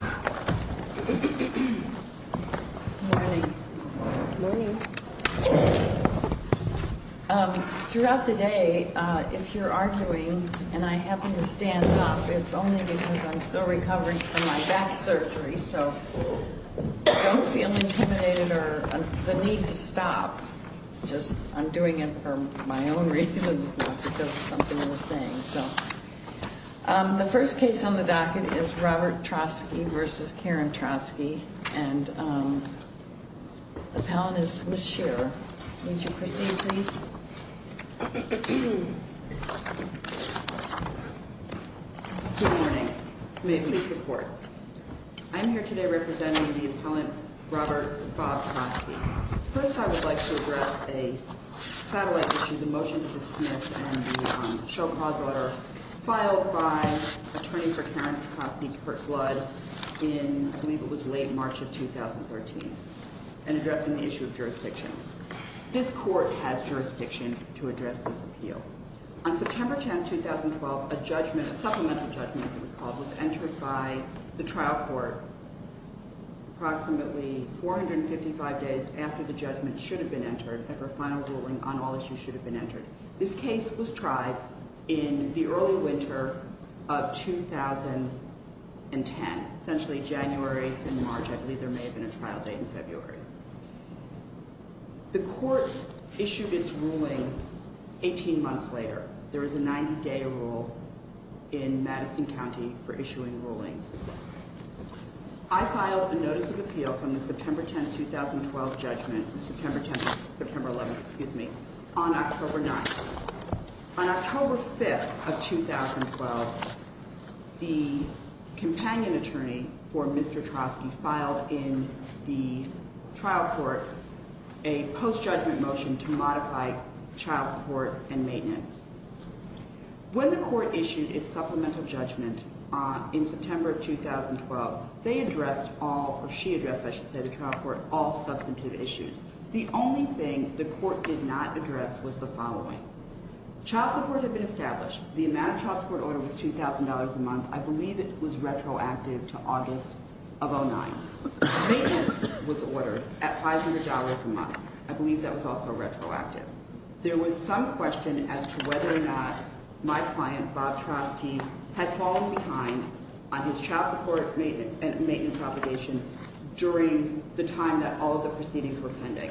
Good morning. Throughout the day, if you're arguing, and I happen to stand up, it's only because I'm still recovering from my back surgery. So don't feel intimidated or the need to stop. It's just I'm doing it for my own reasons, not because of something I'm Troske v. Karen Troske. And the appellant is Ms. Shearer. Would you proceed, please? Good morning. May it please the Court. I'm here today representing the appellant Robert Bob Troske. First, I would like to address a satellite issue, the motion to dismiss and show cause order filed by attorney for Karen Troske, Kirk Blood, in I believe it was late March of 2013, and addressing the issue of jurisdiction. This Court has jurisdiction to address this appeal. On September 10, 2012, a judgment, a supplemental judgment as it was called, was entered by the trial court approximately 455 days after the judgment should have been entered and for final ruling on all issues should have been entered. This case was tried in the early winter of 2010, essentially January and March. I believe there may have been a trial date in February. The Court issued its ruling 18 months later. There was a 90-day rule in Madison County for issuing ruling. I filed a notice of appeal from the September 10, 2012 judgment, September 10, September 11, excuse me, on October 9th. On October 5th of 2012, the companion attorney for Mr. Troske filed in the trial court a post-judgment motion to modify child support and maintenance. When the Court issued its ruling, I should say the trial court, all substantive issues. The only thing the Court did not address was the following. Child support had been established. The amount of child support order was $2,000 a month. I believe it was retroactive to August of 2009. Maintenance was ordered at $500 a month. I believe that was also retroactive. There was some question as to whether or not my client, Bob Troske, had fallen behind on his child support and maintenance during the time that all of the proceedings were pending.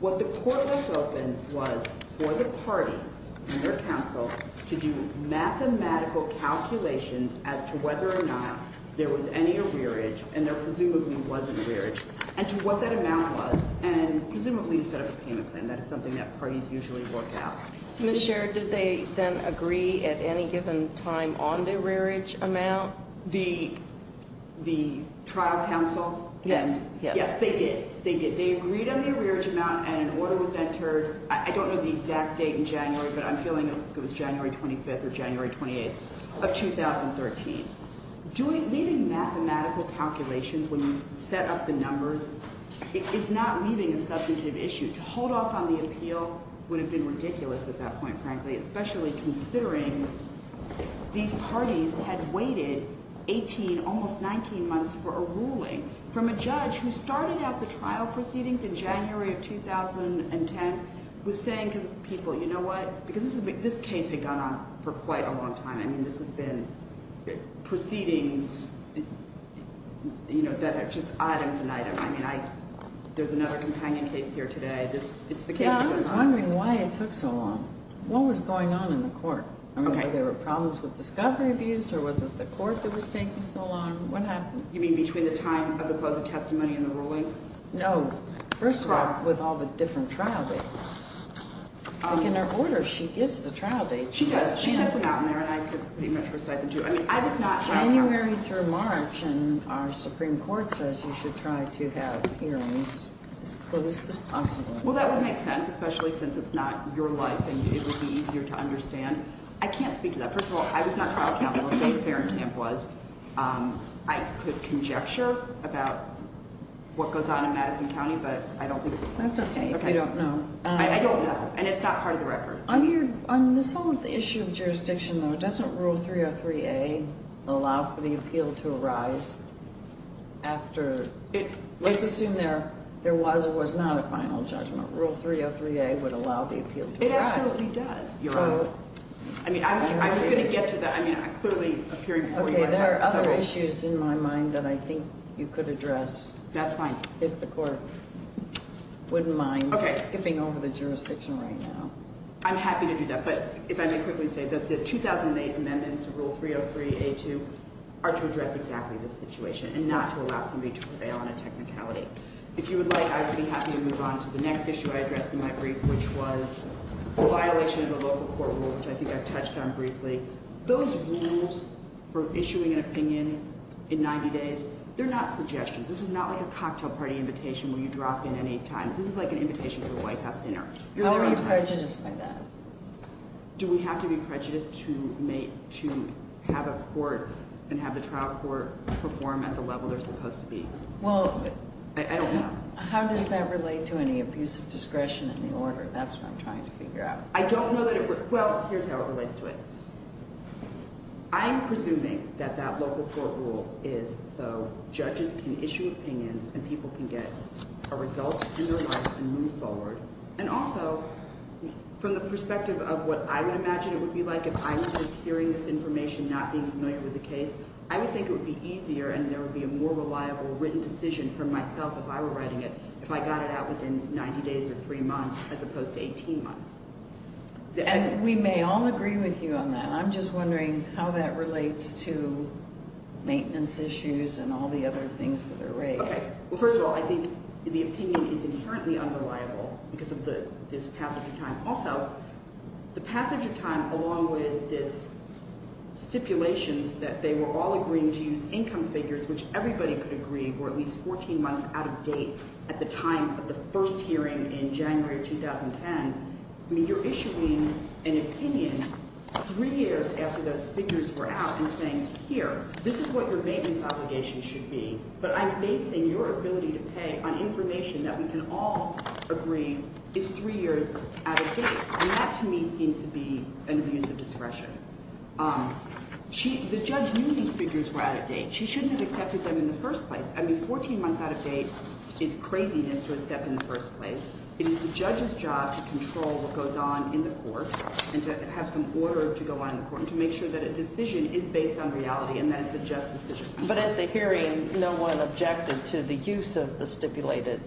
What the Court left open was for the parties and their counsel to do mathematical calculations as to whether or not there was any arrearage, and there presumably wasn't arrearage, and to what that amount was, and presumably to set up a payment plan. That is something that parties usually work out. Ms. Sherrod, did they then agree at any given time on the arrearage amount? The trial counsel? Yes. Yes, they did. They did. They agreed on the arrearage amount and an order was entered. I don't know the exact date in January, but I'm feeling it was January 25th or January 28th of 2013. Leaving mathematical calculations when you set up the numbers is not leaving a substantive issue. To hold off on the appeal would have been ridiculous at that point, frankly, especially considering these parties had waited 18, almost 19 months for a ruling from a judge who started out the trial proceedings in January of 2010, was saying to the people, you know what? Because this case had gone on for quite a long time. I mean, this has been proceedings that are just item to item. I mean, there's another companion case here today. It's the case that's going on. I'm wondering why it took so long. What was going on in the court? I mean, were there problems with discovery abuse or was it the court that was taking so long? What happened? You mean between the time of the close of testimony and the ruling? No. First of all, with all the different trial dates. Like in her order, she gives the trial dates. She does. She does them out in there and I could pretty much recite them to you. I mean, I was not shocked. January through March and our Supreme Court says you should try to have hearings as close as possible. Well, that would make sense, especially since it's not your life and it would be easier to understand. I can't speak to that. First of all, I was not trial counsel until the Farringham was. I could conjecture about what goes on in Madison County, but I don't think it's part of the record. That's okay if you don't know. I don't know. And it's not part of the record. On this whole issue of jurisdiction, though, doesn't Rule 303A allow for the appeal to be passed? It absolutely does. I mean, I'm just going to get to that. I mean, I'm clearly appearing before you right now. Okay, there are other issues in my mind that I think you could address. That's fine. If the Court wouldn't mind skipping over the jurisdiction right now. I'm happy to do that, but if I may quickly say that the 2008 amendments to Rule 303A2 are to address exactly this situation and not to allow somebody to prevail on a technicality. If you would like, I would be happy to move on to the next issue I addressed in my brief, which was the violation of the local court rule, which I think I touched on briefly. Those rules for issuing an opinion in 90 days, they're not suggestions. This is not like a cocktail party invitation where you drop in any time. This is like an invitation to a White House dinner. How are you prejudiced by that? Do we have to be prejudiced to have a court and have the trial court perform at the level they're supposed to be? I don't know. How does that relate to any abuse of discretion in the order? That's what I'm trying to figure out. I don't know that it relates. Well, here's how it relates to it. I'm presuming that that local court rule is so judges can issue opinions and people can get a result in their lives and move forward. And also, from the perspective of what I would imagine it would be like if I was just hearing this information, not being familiar with the case, I would think it would be easier and there would be a more reliable written decision for myself if I were writing it if I got it out within 90 days or three months as opposed to 18 months. And we may all agree with you on that. I'm just wondering how that relates to maintenance issues and all the other things that are raised. Well, first of all, I think the opinion is inherently unreliable because of this passage of time. Also, the passage of time along with this stipulations that they were all agreeing to use income figures, which everybody could agree were at least 14 months out of date at the time of the first hearing in January of 2010. I mean, you're issuing an opinion three years after those figures were out and saying, here, this is what your maintenance obligation should be, but I'm basing your ability to pay on information that we can all agree is three years out of date. And that, to me, seems to be an abuse of discretion. The judge knew these figures were out of date. She shouldn't have accepted them in the first place. I mean, 14 months out of date is craziness to accept in the first place. It is the judge's job to control what goes on in the court and to have some order to go on in the court and to make sure that a decision is based on reality and that it's a just decision. But at the hearing, no one objected to the use of the stipulated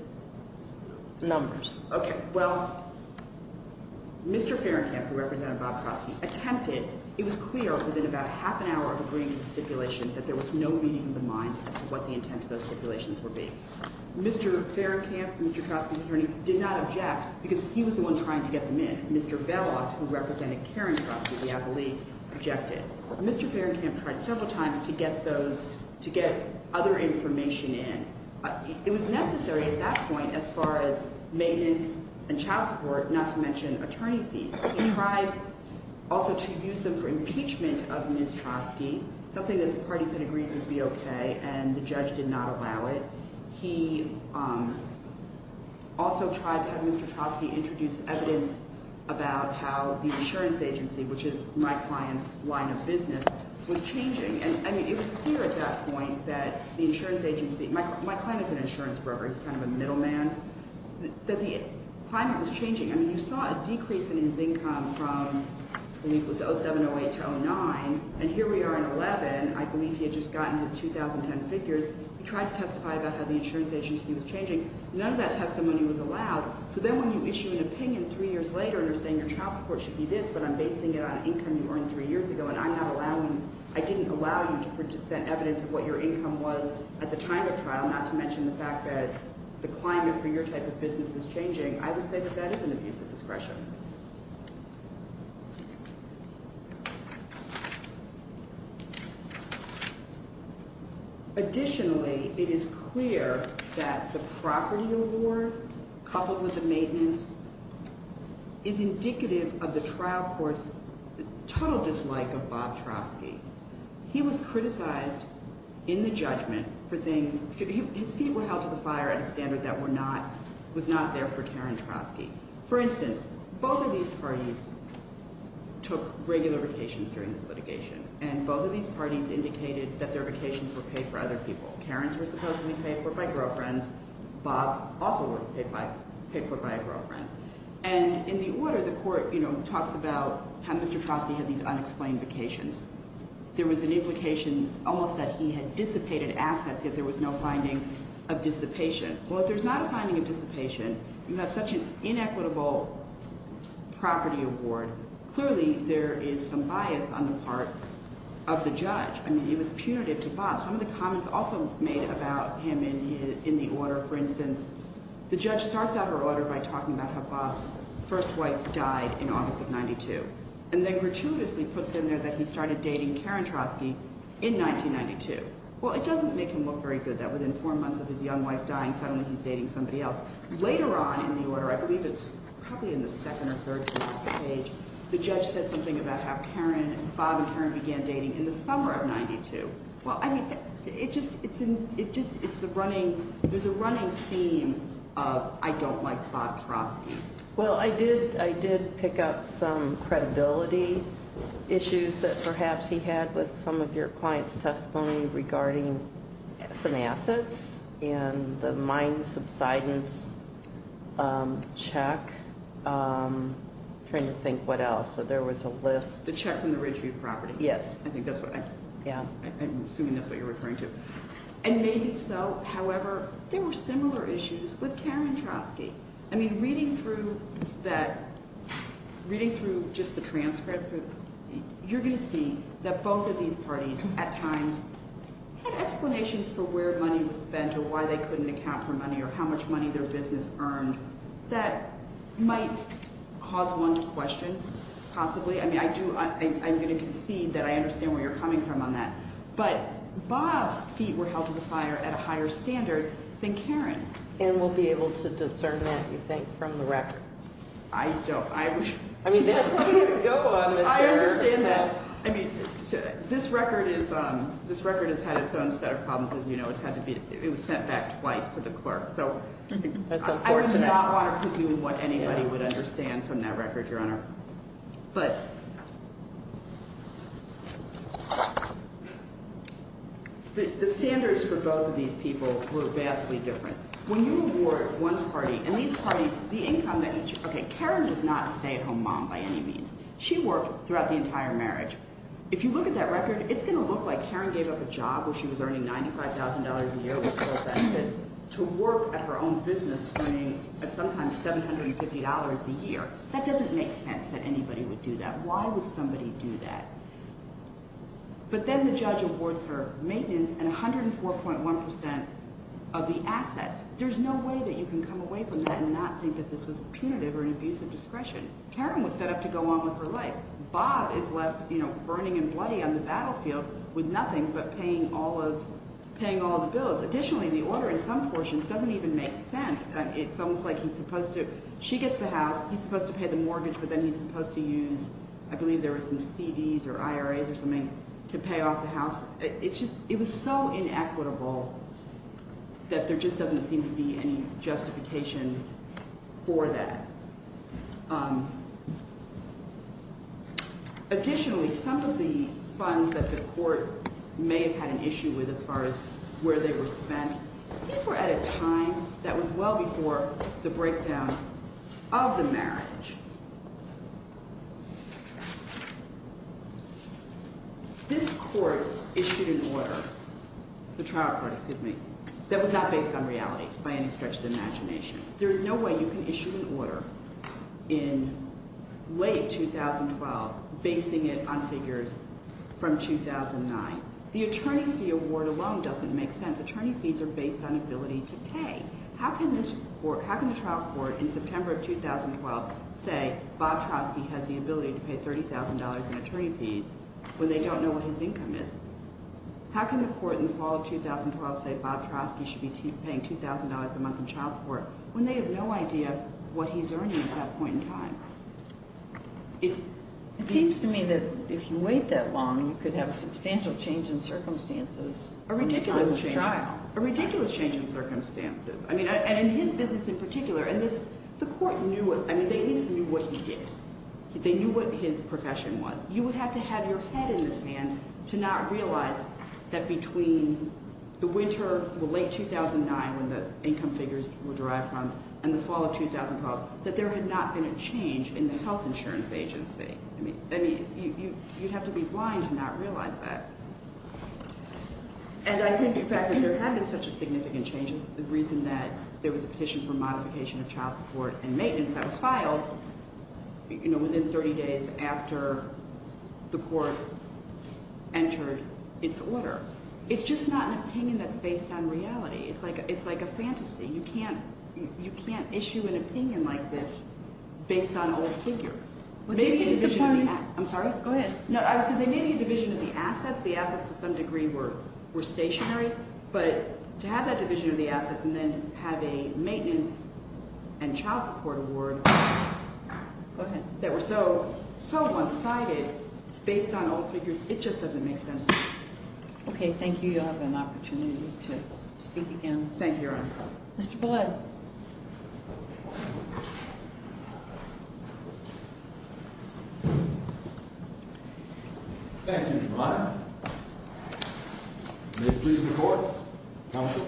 numbers. Okay. Well, Mr. Ferenkamp, who represented Bob Crosby, attempted. It was clear within about half an hour of agreeing to the stipulation that there was no meaning in the minds as to what the intent of those stipulations would be. Mr. Ferenkamp, Mr. Crosby's attorney, did not object because he was the one trying to get them in. Mr. Velloff, who represented Karen Crosby, the appellee, objected. Mr. Ferenkamp tried several times to get those, to get other information in. It was necessary at that point as far as maintenance and child support, not to mention attorney fees. He tried also to use them for impeachment of Ms. Crosby, something that the parties had agreed would be okay, and the judge did not allow it. He also tried to have Mr. Crosby introduce evidence about how the insurance agency, which is my client's line of business, was changing. I mean, it was clear at that point that the insurance agency, my client is an insurance broker, he's kind of a middleman, that the climate was changing. I mean, you saw a decrease in his income from, I believe it was 07, 08 to 09, and here we are in 11. I believe he had just gotten his 2010 figures. He tried to testify about how the insurance agency was changing. None of that testimony was allowed, so then when you issue an opinion three years later and are saying your child support should be this, but I'm basing it on income you earned three years ago and I'm not allowing, I didn't allow you to present evidence of what your income was at the time of trial, not to mention the fact that the climate for your type of business is changing, I would say that that is an abuse of discretion. Additionally, it is clear that the property award, coupled with the maintenance, is indicative of the trial court's total dislike of Bob Trosky. He was criticized in the judgment for things, his feet were held to the fire at a standard that was not there for Karen Trosky. For instance, both of these parties took regular vacations during this litigation, and both of these parties indicated that their vacations were paid for other people. Karen's were supposedly paid for by girlfriends. Bob also was paid for by a girlfriend. And in the order, the court, you know, talks about how Mr. Trosky had these unexplained vacations. There was an implication almost that he had dissipated assets, yet there was no finding of dissipation. Well, if there's not a finding of dissipation, you have such an inequitable property award, clearly there is some bias on the part of the judge. I mean, it was punitive to Bob. Some of the comments also made about him in the order, for instance, the judge starts out her order by talking about how Bob's first wife died in August of 92, and then gratuitously puts in there that he started dating Karen Trosky in 1992. Well, it doesn't make him look very good that within four months of his young wife dying, suddenly he's dating somebody else. Later on in the order, I believe it's probably in the second or third page, the judge says something about how Karen, Bob and Karen began dating in the summer of 92. Well, I mean, there's a running theme of I don't like Bob Trosky. Well, I did pick up some credibility issues that perhaps he had with some of your client's testimony regarding some assets and the mine subsidence check. I'm trying to think what else, but there was a list. The check from the Ridgeview property? Yes. I'm assuming that's what you're referring to. And maybe so, however, there were similar issues with Karen Trosky. I mean, reading through just the transcript, you're going to see that both of these parties at times had explanations for where money was spent or why they couldn't account for money or how much money their business earned that might cause one to question possibly. I'm going to concede that I understand where you're coming from on that. But Bob's feet were held to the fire at a higher standard than Karen's. And we'll be able to discern that, you think, from the record? I don't. I mean, that's where we have to go on this, Karen. I understand that. I mean, this record has had its own set of problems, as you know. It was sent back twice to the clerk. That's unfortunate. I do not want to presume what anybody would understand from that record, Your Honor. But the standards for both of these people were vastly different. When you award one party and these parties, the income that each – okay, Karen does not stay at home mom by any means. She worked throughout the entire marriage. If you look at that record, it's going to look like Karen gave up a job where she was earning $95,000 a year with full benefits to work at her own business earning sometimes $750 a year. That doesn't make sense that anybody would do that. Why would somebody do that? But then the judge awards her maintenance and 104.1% of the assets. There's no way that you can come away from that and not think that this was punitive or an abuse of discretion. Karen was set up to go on with her life. Bob is left, you know, burning and bloody on the battlefield with nothing but paying all of – paying all the bills. Additionally, the order in some portions doesn't even make sense. It's almost like he's supposed to – she gets the house. He's supposed to pay the mortgage, but then he's supposed to use – I believe there were some CDs or IRAs or something to pay off the house. It's just – it was so inequitable that there just doesn't seem to be any justification for that. Additionally, some of the funds that the court may have had an issue with as far as where they were spent, these were at a time that was well before the breakdown of the marriage. This court issued an order – the trial court, excuse me – that was not based on reality by any stretch of the imagination. There is no way you can issue an order in late 2012 basing it on figures from 2009. The attorney fee award alone doesn't make sense. Attorney fees are based on ability to pay. How can this court – how can the trial court in September of 2012 say Bob Trotsky has the ability to pay $30,000 in attorney fees when they don't know what his income is? How can the court in the fall of 2012 say Bob Trotsky should be paying $2,000 a month in child support when they have no idea what he's earning at that point in time? It seems to me that if you wait that long, you could have a substantial change in circumstances in the time of the trial. A ridiculous change. A ridiculous change in circumstances. I mean, and in his business in particular. And the court knew – I mean, they at least knew what he did. They knew what his profession was. You would have to have your head in the sand to not realize that between the winter, the late 2009 when the income figures were derived from, and the fall of 2012, that there had not been a change in the health insurance agency. I mean, you'd have to be blind to not realize that. And I think the fact that there had been such a significant change is the reason that there was a petition for modification of child support and maintenance that was filed, you know, within 30 days after the court entered its order. It's just not an opinion that's based on reality. It's like a fantasy. You can't issue an opinion like this based on old figures. Maybe a division of the – I'm sorry? Go ahead. No, I was going to say maybe a division of the assets. The assets to some degree were stationary, but to have that division of the assets and then have a maintenance and child support award that were so one-sided based on old figures, it just doesn't make sense. Okay, thank you. You'll have an opportunity to speak again. Thank you, Your Honor. Mr. Blood. Thank you, Your Honor. May it please the Court. Counsel.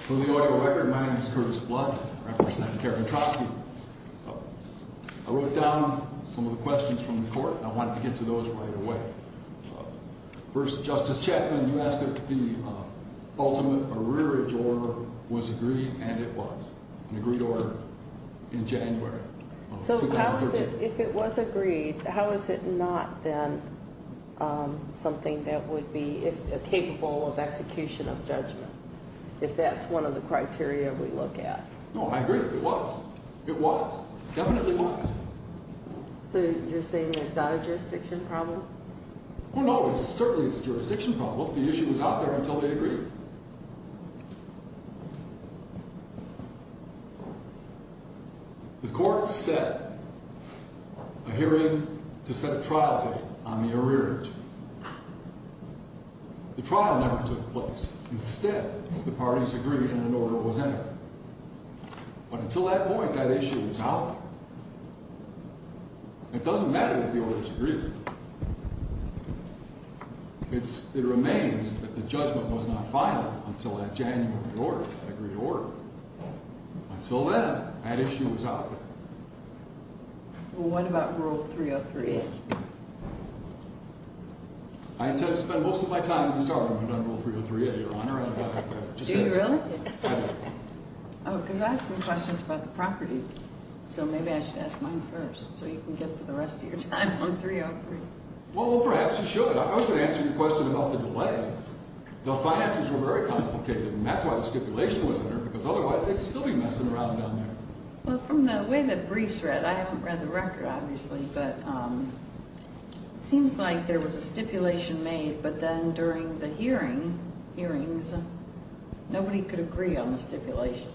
For the audio record, my name is Curtis Blood. I represent Karen Trotsky. I wrote down some of the questions from the court, and I wanted to get to those right away. First, Justice Chapman, you asked if the ultimate arrearage order was agreed, and it was. An agreed order in January of 2013. So how is it – if it was agreed, how is it not then something that would be capable of execution of judgment, if that's one of the criteria we look at? No, I agree. It was. It was. Definitely was. So you're saying it's not a jurisdiction problem? Well, no, it certainly is a jurisdiction problem. The issue was out there until they agreed. The court set a hearing to set a trial date on the arrearage. The trial never took place. Instead, the parties agreed and an order was entered. But until that point, that issue was out there. It doesn't matter if the order was agreed. It remains that the judgment was not filed until that January order, that agreed order. Until then, that issue was out there. Well, what about Rule 303A? I intend to spend most of my time in this argument on Rule 303A, Your Honor. Do you really? I do. Oh, because I have some questions about the property, so maybe I should ask mine first so you can get to the rest of your time on 303. Well, perhaps you should. I was going to answer your question about the delay. The finances were very complicated, and that's why the stipulation wasn't there, because otherwise they'd still be messing around down there. Well, from the way the brief's read – I haven't read the record, obviously – but it seems like there was a stipulation made, but then during the hearings, nobody could agree on the stipulation.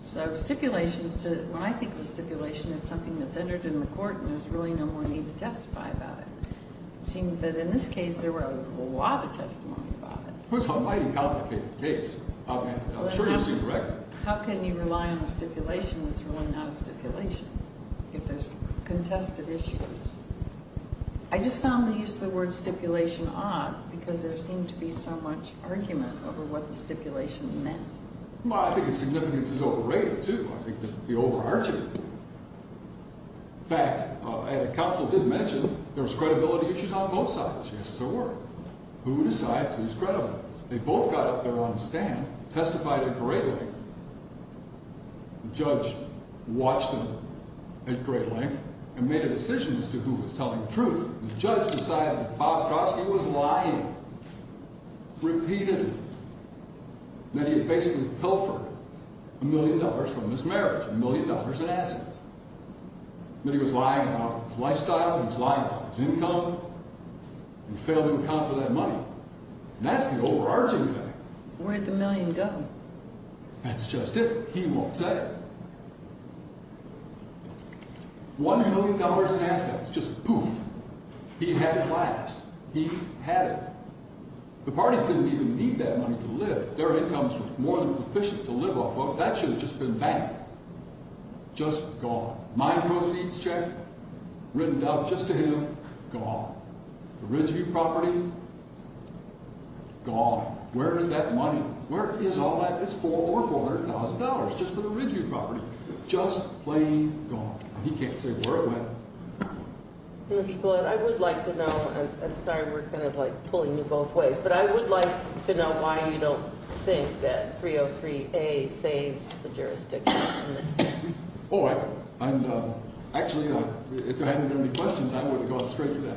So stipulations – when I think of a stipulation, it's something that's entered in the court and there's really no more need to testify about it. It seems that in this case, there was a lot of testimony about it. Well, it's a mighty complicated case. I'm sure you see the record. How can you rely on a stipulation that's really not a stipulation? If there's contested issues. I just found the use of the word stipulation odd, because there seemed to be so much argument over what the stipulation meant. Well, I think its significance is overrated, too. I think it would be overarching. In fact, the counsel did mention there was credibility issues on both sides. Yes, there were. Who decides who's credible? They both got up there on the stand, testified at a great length. The judge watched them at great length and made a decision as to who was telling the truth. The judge decided that Bob Trotsky was lying. Repeatedly. That he had basically pilfered a million dollars from his marriage, a million dollars in assets. That he was lying about his lifestyle, he was lying about his income, and failed to account for that money. And that's the overarching thing. Where'd the million go? That's just it. He won't say. One million dollars in assets. Just poof. He had it last. He had it. The parties didn't even need that money to live. Their incomes were more than sufficient to live off of. That should have just been banked. Just gone. Mine proceeds check, written out just to him. Gone. The Ridgeview property, gone. Where's that money? Where is all that? It's over $400,000. Just for the Ridgeview property. Just plain gone. He can't say where it went. I would like to know. I'm sorry we're kind of like pulling you both ways. But I would like to know why you don't think that 303A saves the jurisdiction. Oh, I. Actually, if there hadn't been any questions, I would have gone straight to that.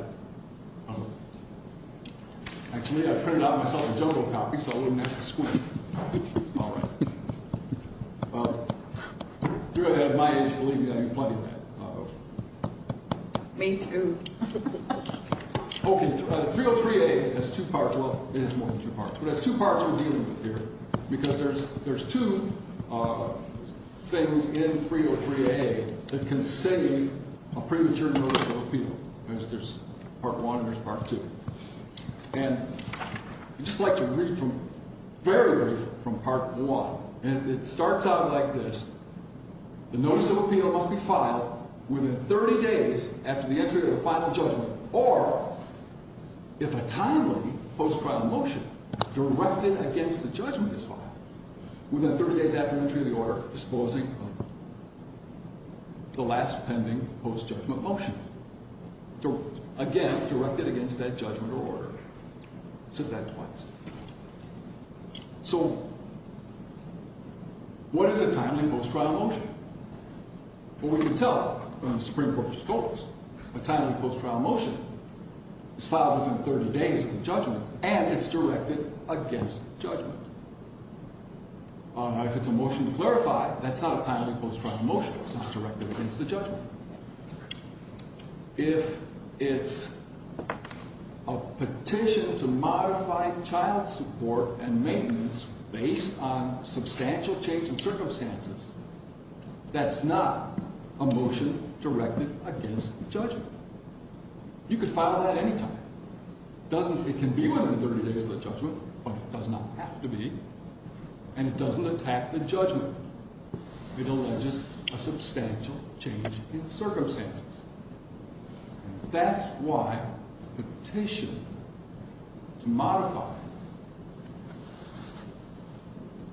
Actually, I printed out myself a jungle copy so I wouldn't have to squeak. All right. If you were my age, believe me, I'd be plugging that. Me too. Okay. 303A has two parts. Well, it has more than two parts. But it has two parts we're dealing with here. Because there's two things in 303A that can save a premature notice of appeal. There's part one and there's part two. And I'd just like to read very briefly from part one. And it starts out like this. The notice of appeal must be filed within 30 days after the entry of the final judgment. Or if a timely post-trial motion directed against the judgment is filed within 30 days after the entry of the order, disposing of the last pending post-judgment motion. Again, directed against that judgment or order. Says that twice. So what is a timely post-trial motion? Well, we can tell. The Supreme Court just told us. A timely post-trial motion is filed within 30 days of the judgment and it's directed against the judgment. If it's a motion to clarify, that's not a timely post-trial motion. It's not directed against the judgment. If it's a petition to modify child support and maintenance based on substantial change in circumstances, that's not a motion directed against the judgment. You could file that any time. It can be within 30 days of the judgment, but it does not have to be. And it doesn't attack the judgment. It alleges a substantial change in circumstances. That's why the petition to modify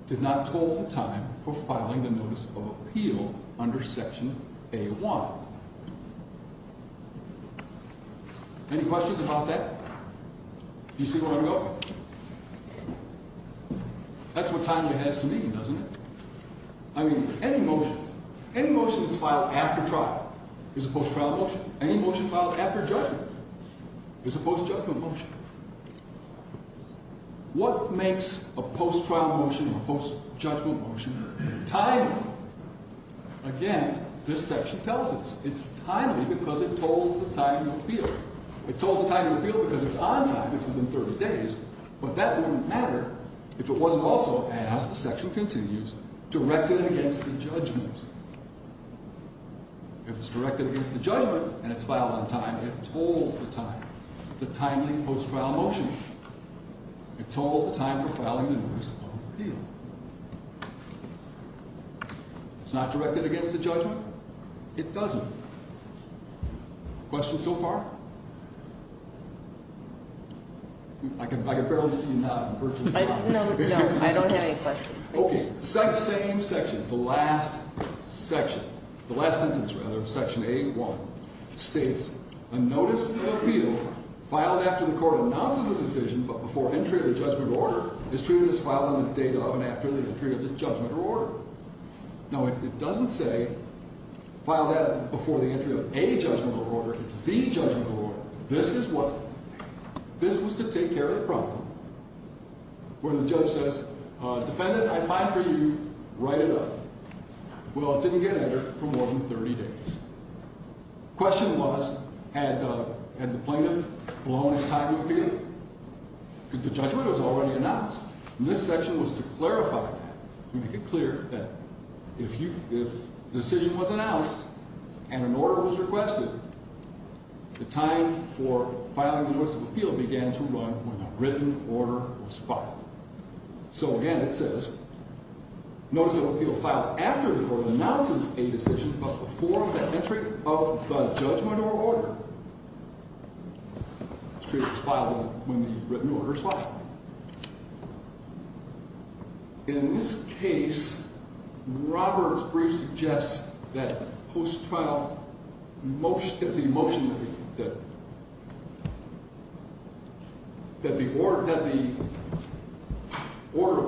did not total the time for filing the notice of appeal under Section A-1. Any questions about that? Do you see where I'm going? That's what timely has to mean, doesn't it? I mean, any motion, any motion that's filed after trial is a post-trial motion. Any motion filed after judgment is a post-judgment motion. What makes a post-trial motion or a post-judgment motion timely? Again, this section tells us. It's timely because it tolls the time of appeal. It tolls the time of appeal because it's on time. It's within 30 days, but that wouldn't matter if it wasn't also, as the section continues, directed against the judgment. If it's directed against the judgment and it's filed on time, it tolls the time. It's a timely post-trial motion. It tolls the time for filing the notice of appeal. It's not directed against the judgment. It doesn't. Questions so far? I can barely see you now. No, I don't have any questions. Okay. Same section. The last section. The last sentence, rather. Section 8-1 states, a notice of appeal filed after the court announces a decision but before entry of the judgment order is treated as filed on the date of and after the entry of the judgment order. Now, it doesn't say, file that before the entry of a judgment order. It's the judgment order. This is what. This was to take care of the problem where the judge says, defendant, I find for you, write it up. Well, it didn't get entered for more than 30 days. Question was, had the plaintiff blown his time of appeal? The judgment was already announced. And this section was to clarify that, to make it clear that if the decision was announced and an order was requested, the time for filing the notice of appeal began to run when the written order was filed. So, again, it says, notice of appeal filed after the court announces a decision but before the entry of the judgment or order is treated as filed when the written order is filed. In this case, Robert's brief suggests that post-trial, that the motion, that the order of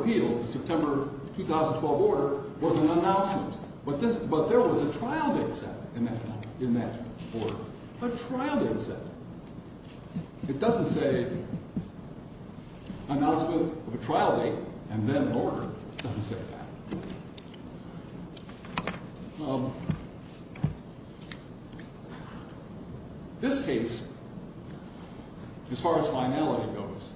appeal, the September 2012 order, was an announcement. But there was a trial date set in that order. A trial date set. It doesn't say announcement of a trial date and then an order. It doesn't say that. This case, as far as finality goes,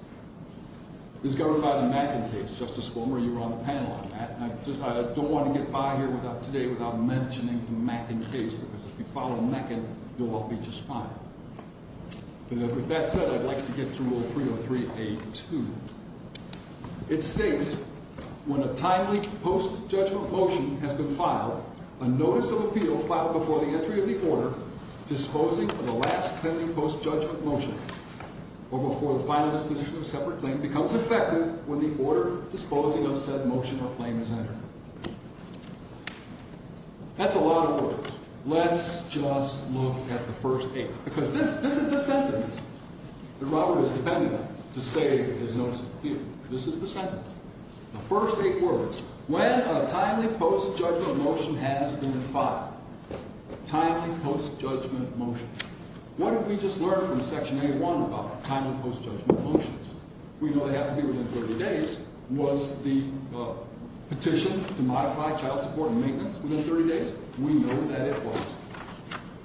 is governed by the Mackin case. Justice Warmer, you were on the panel on that. I don't want to get by here today without mentioning the Mackin case because if you follow Mackin, you'll all be just fine. With that said, I'd like to get to Rule 303A2. It states, when a timely post-judgment motion has been filed, a notice of appeal filed before the entry of the order disposing of the last pending post-judgment motion or before the final disposition of a separate claim becomes effective when the order disposing of said motion or claim is entered. That's a lot of words. Let's just look at the first eight because this is the sentence that Robert is dependent on to say there's notice of appeal. This is the sentence. The first eight words. When a timely post-judgment motion has been filed. Timely post-judgment motion. What did we just learn from Section A1 about timely post-judgment motions? We know they have to be within 30 days. Was the petition to modify child support and maintenance within 30 days? We know that it was.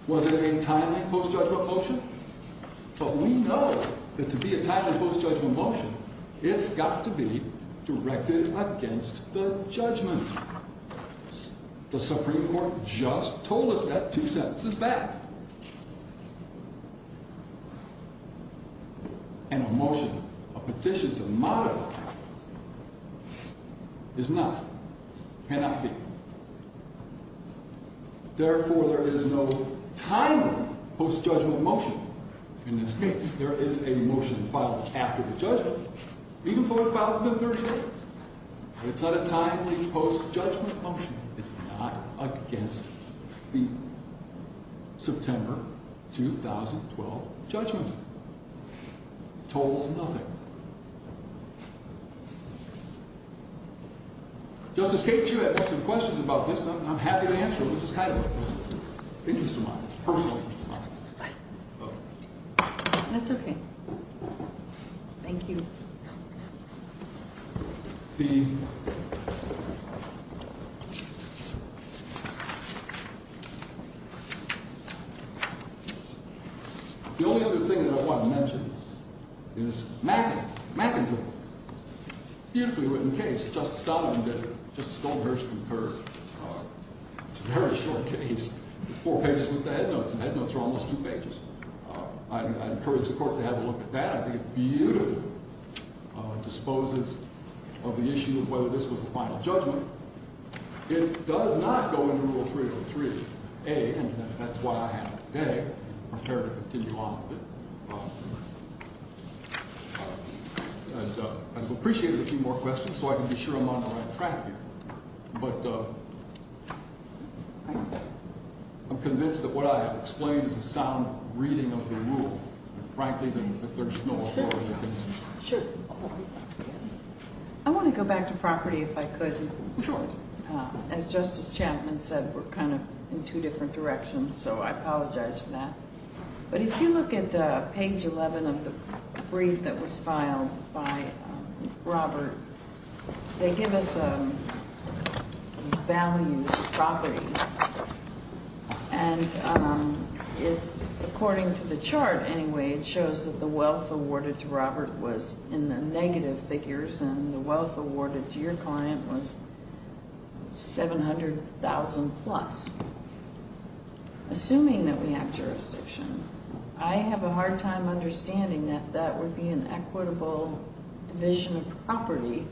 Was it a timely post-judgment motion? But we know that to be a timely post-judgment motion, it's got to be directed against the judgment. The Supreme Court just told us that two sentences back. And a motion, a petition to modify, is not. Cannot be. Therefore, there is no timely post-judgment motion in this case. There is a motion filed after the judgment. Even though it's filed within 30 days. But it's not a timely post-judgment motion. It's not against the September 2012 judgment. Totals nothing. Justice Kate, if you have any questions about this, I'm happy to answer them. This is kind of an interest of mine. It's a personal interest of mine. That's okay. Thank you. The only other thing that I want to mention is McIntyre. McIntyre. Beautifully written case. Justice Donovan did it. Justice Goldberg concurred. It's a very short case. Four pages with the head notes. The head notes are almost two pages. I'd encourage the Court to have a look at that. I think it beautifully disposes of the issue of whether this was a final judgment. It does not go into Rule 303a. And that's why I have it today, prepared to continue on with it. I'd appreciate a few more questions so I can be sure I'm on the right track here. But I'm convinced that what I have explained is a sound reading of the rule. Frankly, there's no authority against it. Sure. I want to go back to property if I could. Sure. As Justice Champman said, we're kind of in two different directions. So I apologize for that. But if you look at page 11 of the brief that was filed by Robert, they give us these values of property. And according to the chart, anyway, it shows that the wealth awarded to Robert was in the negative figures, and the wealth awarded to your client was $700,000-plus. Assuming that we have jurisdiction, I have a hard time understanding that that would be an equitable division of property.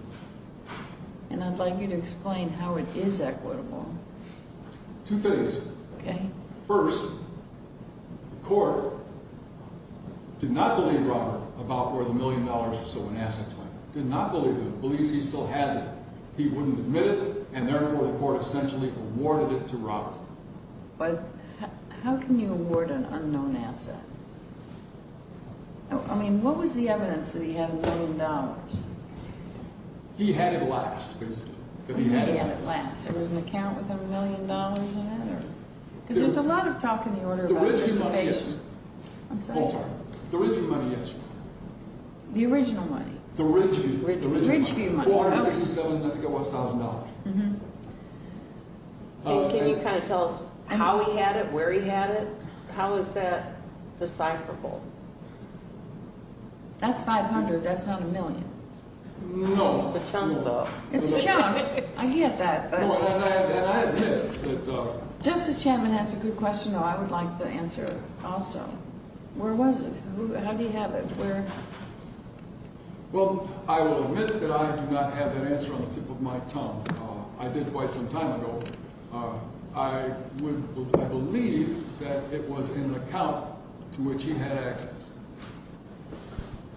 And I'd like you to explain how it is equitable. Two things. Okay. First, the court did not believe Robert about where the $1 million or so in assets went. Did not believe him. Believes he still has it. He wouldn't admit it, and therefore the court essentially awarded it to Robert. But how can you award an unknown asset? I mean, what was the evidence that he had $1 million? He had it last, basically. He had it last. There was an account with $1 million in it? Because there's a lot of talk in the order about dissipation. The Ridgeview money is. I'm sorry? The Ridgeview money is. The original money? The Ridgeview money. The Ridgeview money. I think it was $1,000. Can you kind of tell us how he had it, where he had it? How is that decipherable? That's $500. That's not $1 million. No. It's a chunk. I get that. And I admit that. Justice Chapman has a good question, though. I would like the answer also. Where was it? How do you have it? Where? Well, I will admit that I do not have that answer on the tip of my tongue. I did quite some time ago. I believe that it was in an account to which he had access.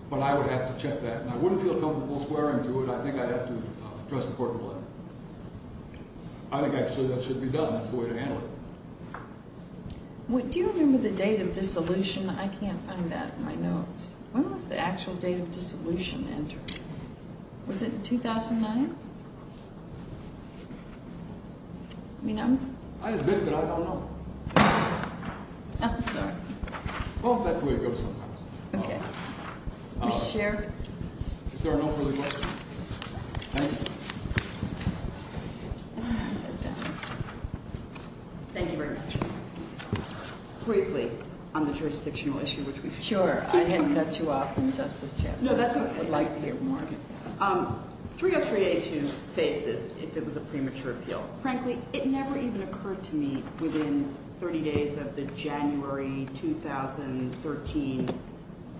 But I would have to check that. And I wouldn't feel comfortable swearing to it. I think I'd have to trust the court to let me. I think, actually, that should be done. That's the way to handle it. I can't find that in my notes. When was the actual date of dissolution entered? Was it in 2009? I admit that I don't know. I'm sorry. Well, that's the way it goes sometimes. Okay. Mr. Sheridan. Is there an opening question? Thank you. Thank you very much. Briefly on the jurisdictional issue, which we've discussed. Sure. I hadn't cut you off from Justice Chandler. No, that's what I would like to hear more of. 30382 saves this if it was a premature appeal. Frankly, it never even occurred to me within 30 days of the January 2013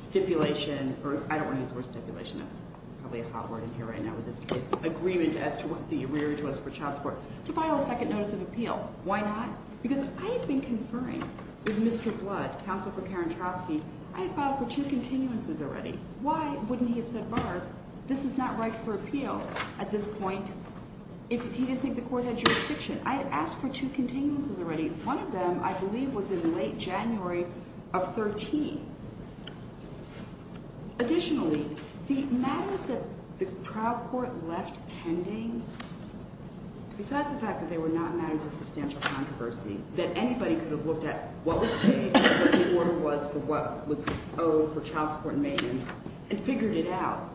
stipulation. I don't want to use the word stipulation. That's probably a hot word in here right now with this case. Agreement as to what the arrearage was for child support. To file a second notice of appeal. Why not? Because I had been conferring with Mr. Blood, Counsel for Karen Trotsky. I had filed for two continuances already. Why wouldn't he have said, Barb, this is not right for appeal at this point if he didn't think the court had jurisdiction? I had asked for two continuances already. One of them, I believe, was in late January of 2013. Additionally, the matters that the trial court left pending, besides the fact that they were not matters of substantial controversy, that anybody could have looked at what was paid and what the order was for what was owed for child support and maintenance and figured it out.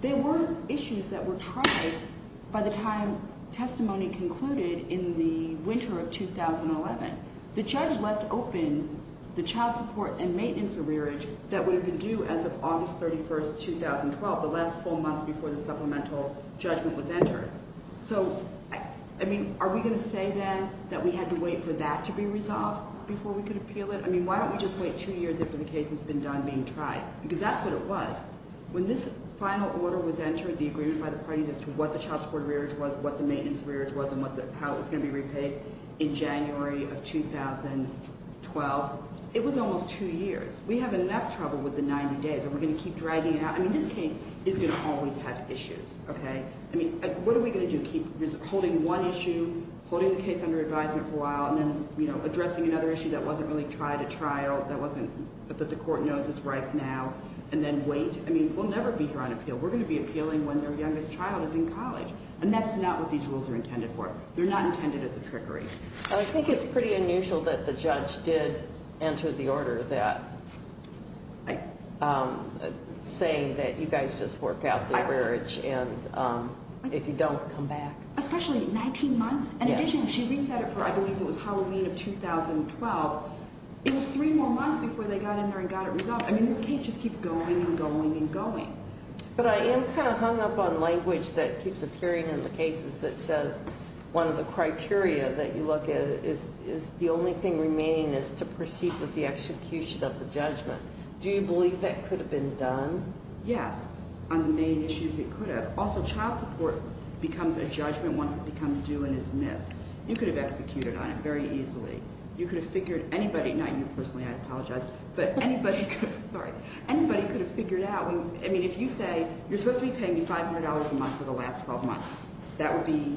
There were issues that were tried by the time testimony concluded in the winter of 2011. The judge left open the child support and maintenance arrearage that would have been due as of August 31, 2012, the last full month before the supplemental judgment was entered. So, I mean, are we going to say then that we had to wait for that to be resolved before we could appeal it? I mean, why don't we just wait two years for the case that's been done being tried? Because that's what it was. When this final order was entered, the agreement by the parties as to what the child support arrearage was, what the maintenance arrearage was, and how it was going to be repaid in January of 2012, it was almost two years. We have enough trouble with the 90 days, and we're going to keep dragging it out. I mean, this case is going to always have issues, okay? I mean, what are we going to do, keep holding one issue, holding the case under advisement for a while, and then, you know, addressing another issue that wasn't really tried at trial, that wasn't, that the court knows is right now, and then wait? I mean, we'll never be here on appeal. We're going to be appealing when their youngest child is in college. And that's not what these rules are intended for. They're not intended as a trickery. I think it's pretty unusual that the judge did enter the order that, saying that you guys just work out the arrearage, and if you don't, come back. Especially 19 months? Yes. In addition, she reset it for, I believe it was Halloween of 2012. It was three more months before they got in there and got it resolved. I mean, this case just keeps going and going and going. But I am kind of hung up on language that keeps appearing in the cases that says one of the criteria that you look at is the only thing remaining is to proceed with the execution of the judgment. Do you believe that could have been done? Yes, on the main issues it could have. Also, child support becomes a judgment once it becomes due and is missed. You could have executed on it very easily. You could have figured anybody, not you personally, I apologize, but anybody could have, sorry, I mean, if you say you're supposed to be paying me $500 a month for the last 12 months, that would be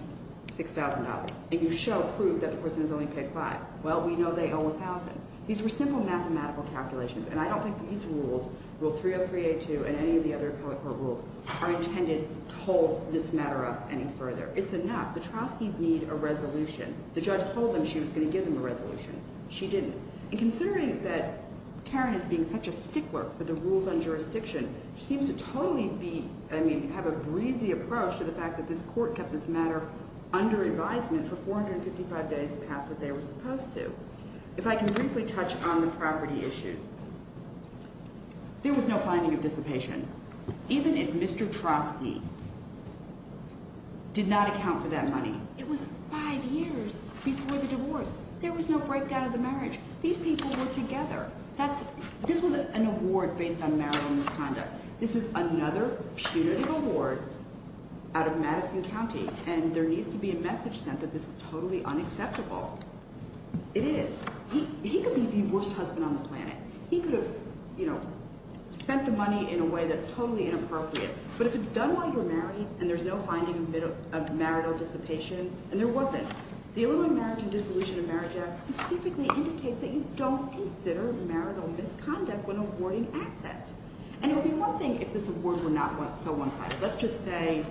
$6,000, and you show proof that the person has only paid $5,000. Well, we know they owe $1,000. These were simple mathematical calculations, and I don't think these rules, Rule 303A2 and any of the other appellate court rules, are intended to hold this matter up any further. It's enough. The trustees need a resolution. The judge told them she was going to give them a resolution. She didn't. And considering that Karen is being such a stickler for the rules on jurisdiction, she seems to totally be, I mean, have a breezy approach to the fact that this court kept this matter under advisement for 455 days past what they were supposed to. If I can briefly touch on the property issues, there was no finding of dissipation. Even if Mr. Troste did not account for that money, it was five years before the divorce. There was no breakdown of the marriage. These people were together. This was an award based on marital misconduct. This is another punitive award out of Madison County, and there needs to be a message sent that this is totally unacceptable. It is. He could be the worst husband on the planet. He could have, you know, spent the money in a way that's totally inappropriate. But if it's done while you're married and there's no finding of marital dissipation, and there wasn't, the Illinois Marriage and Dissolution of Marriage Act specifically indicates that you don't consider marital misconduct when awarding assets. And it would be one thing if this award were not so one-sided. Let's just say,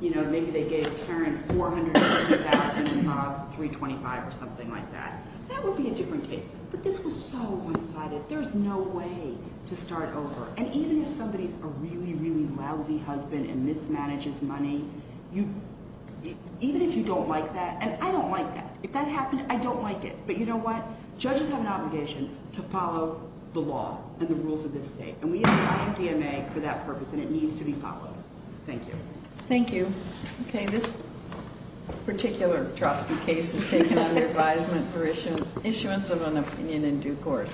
you know, maybe they gave Karen $450,000 and Bob $325,000 or something like that. That would be a different case. But this was so one-sided. There's no way to start over. And even if somebody's a really, really lousy husband and mismanages money, even if you don't like that, and I don't like that. If that happened, I don't like it. But you know what? Judges have an obligation to follow the law and the rules of this state. And we have an IMDMA for that purpose, and it needs to be followed. Thank you. Thank you. Okay, this particular drasty case is taken under advisement for issuance of an opinion in due course.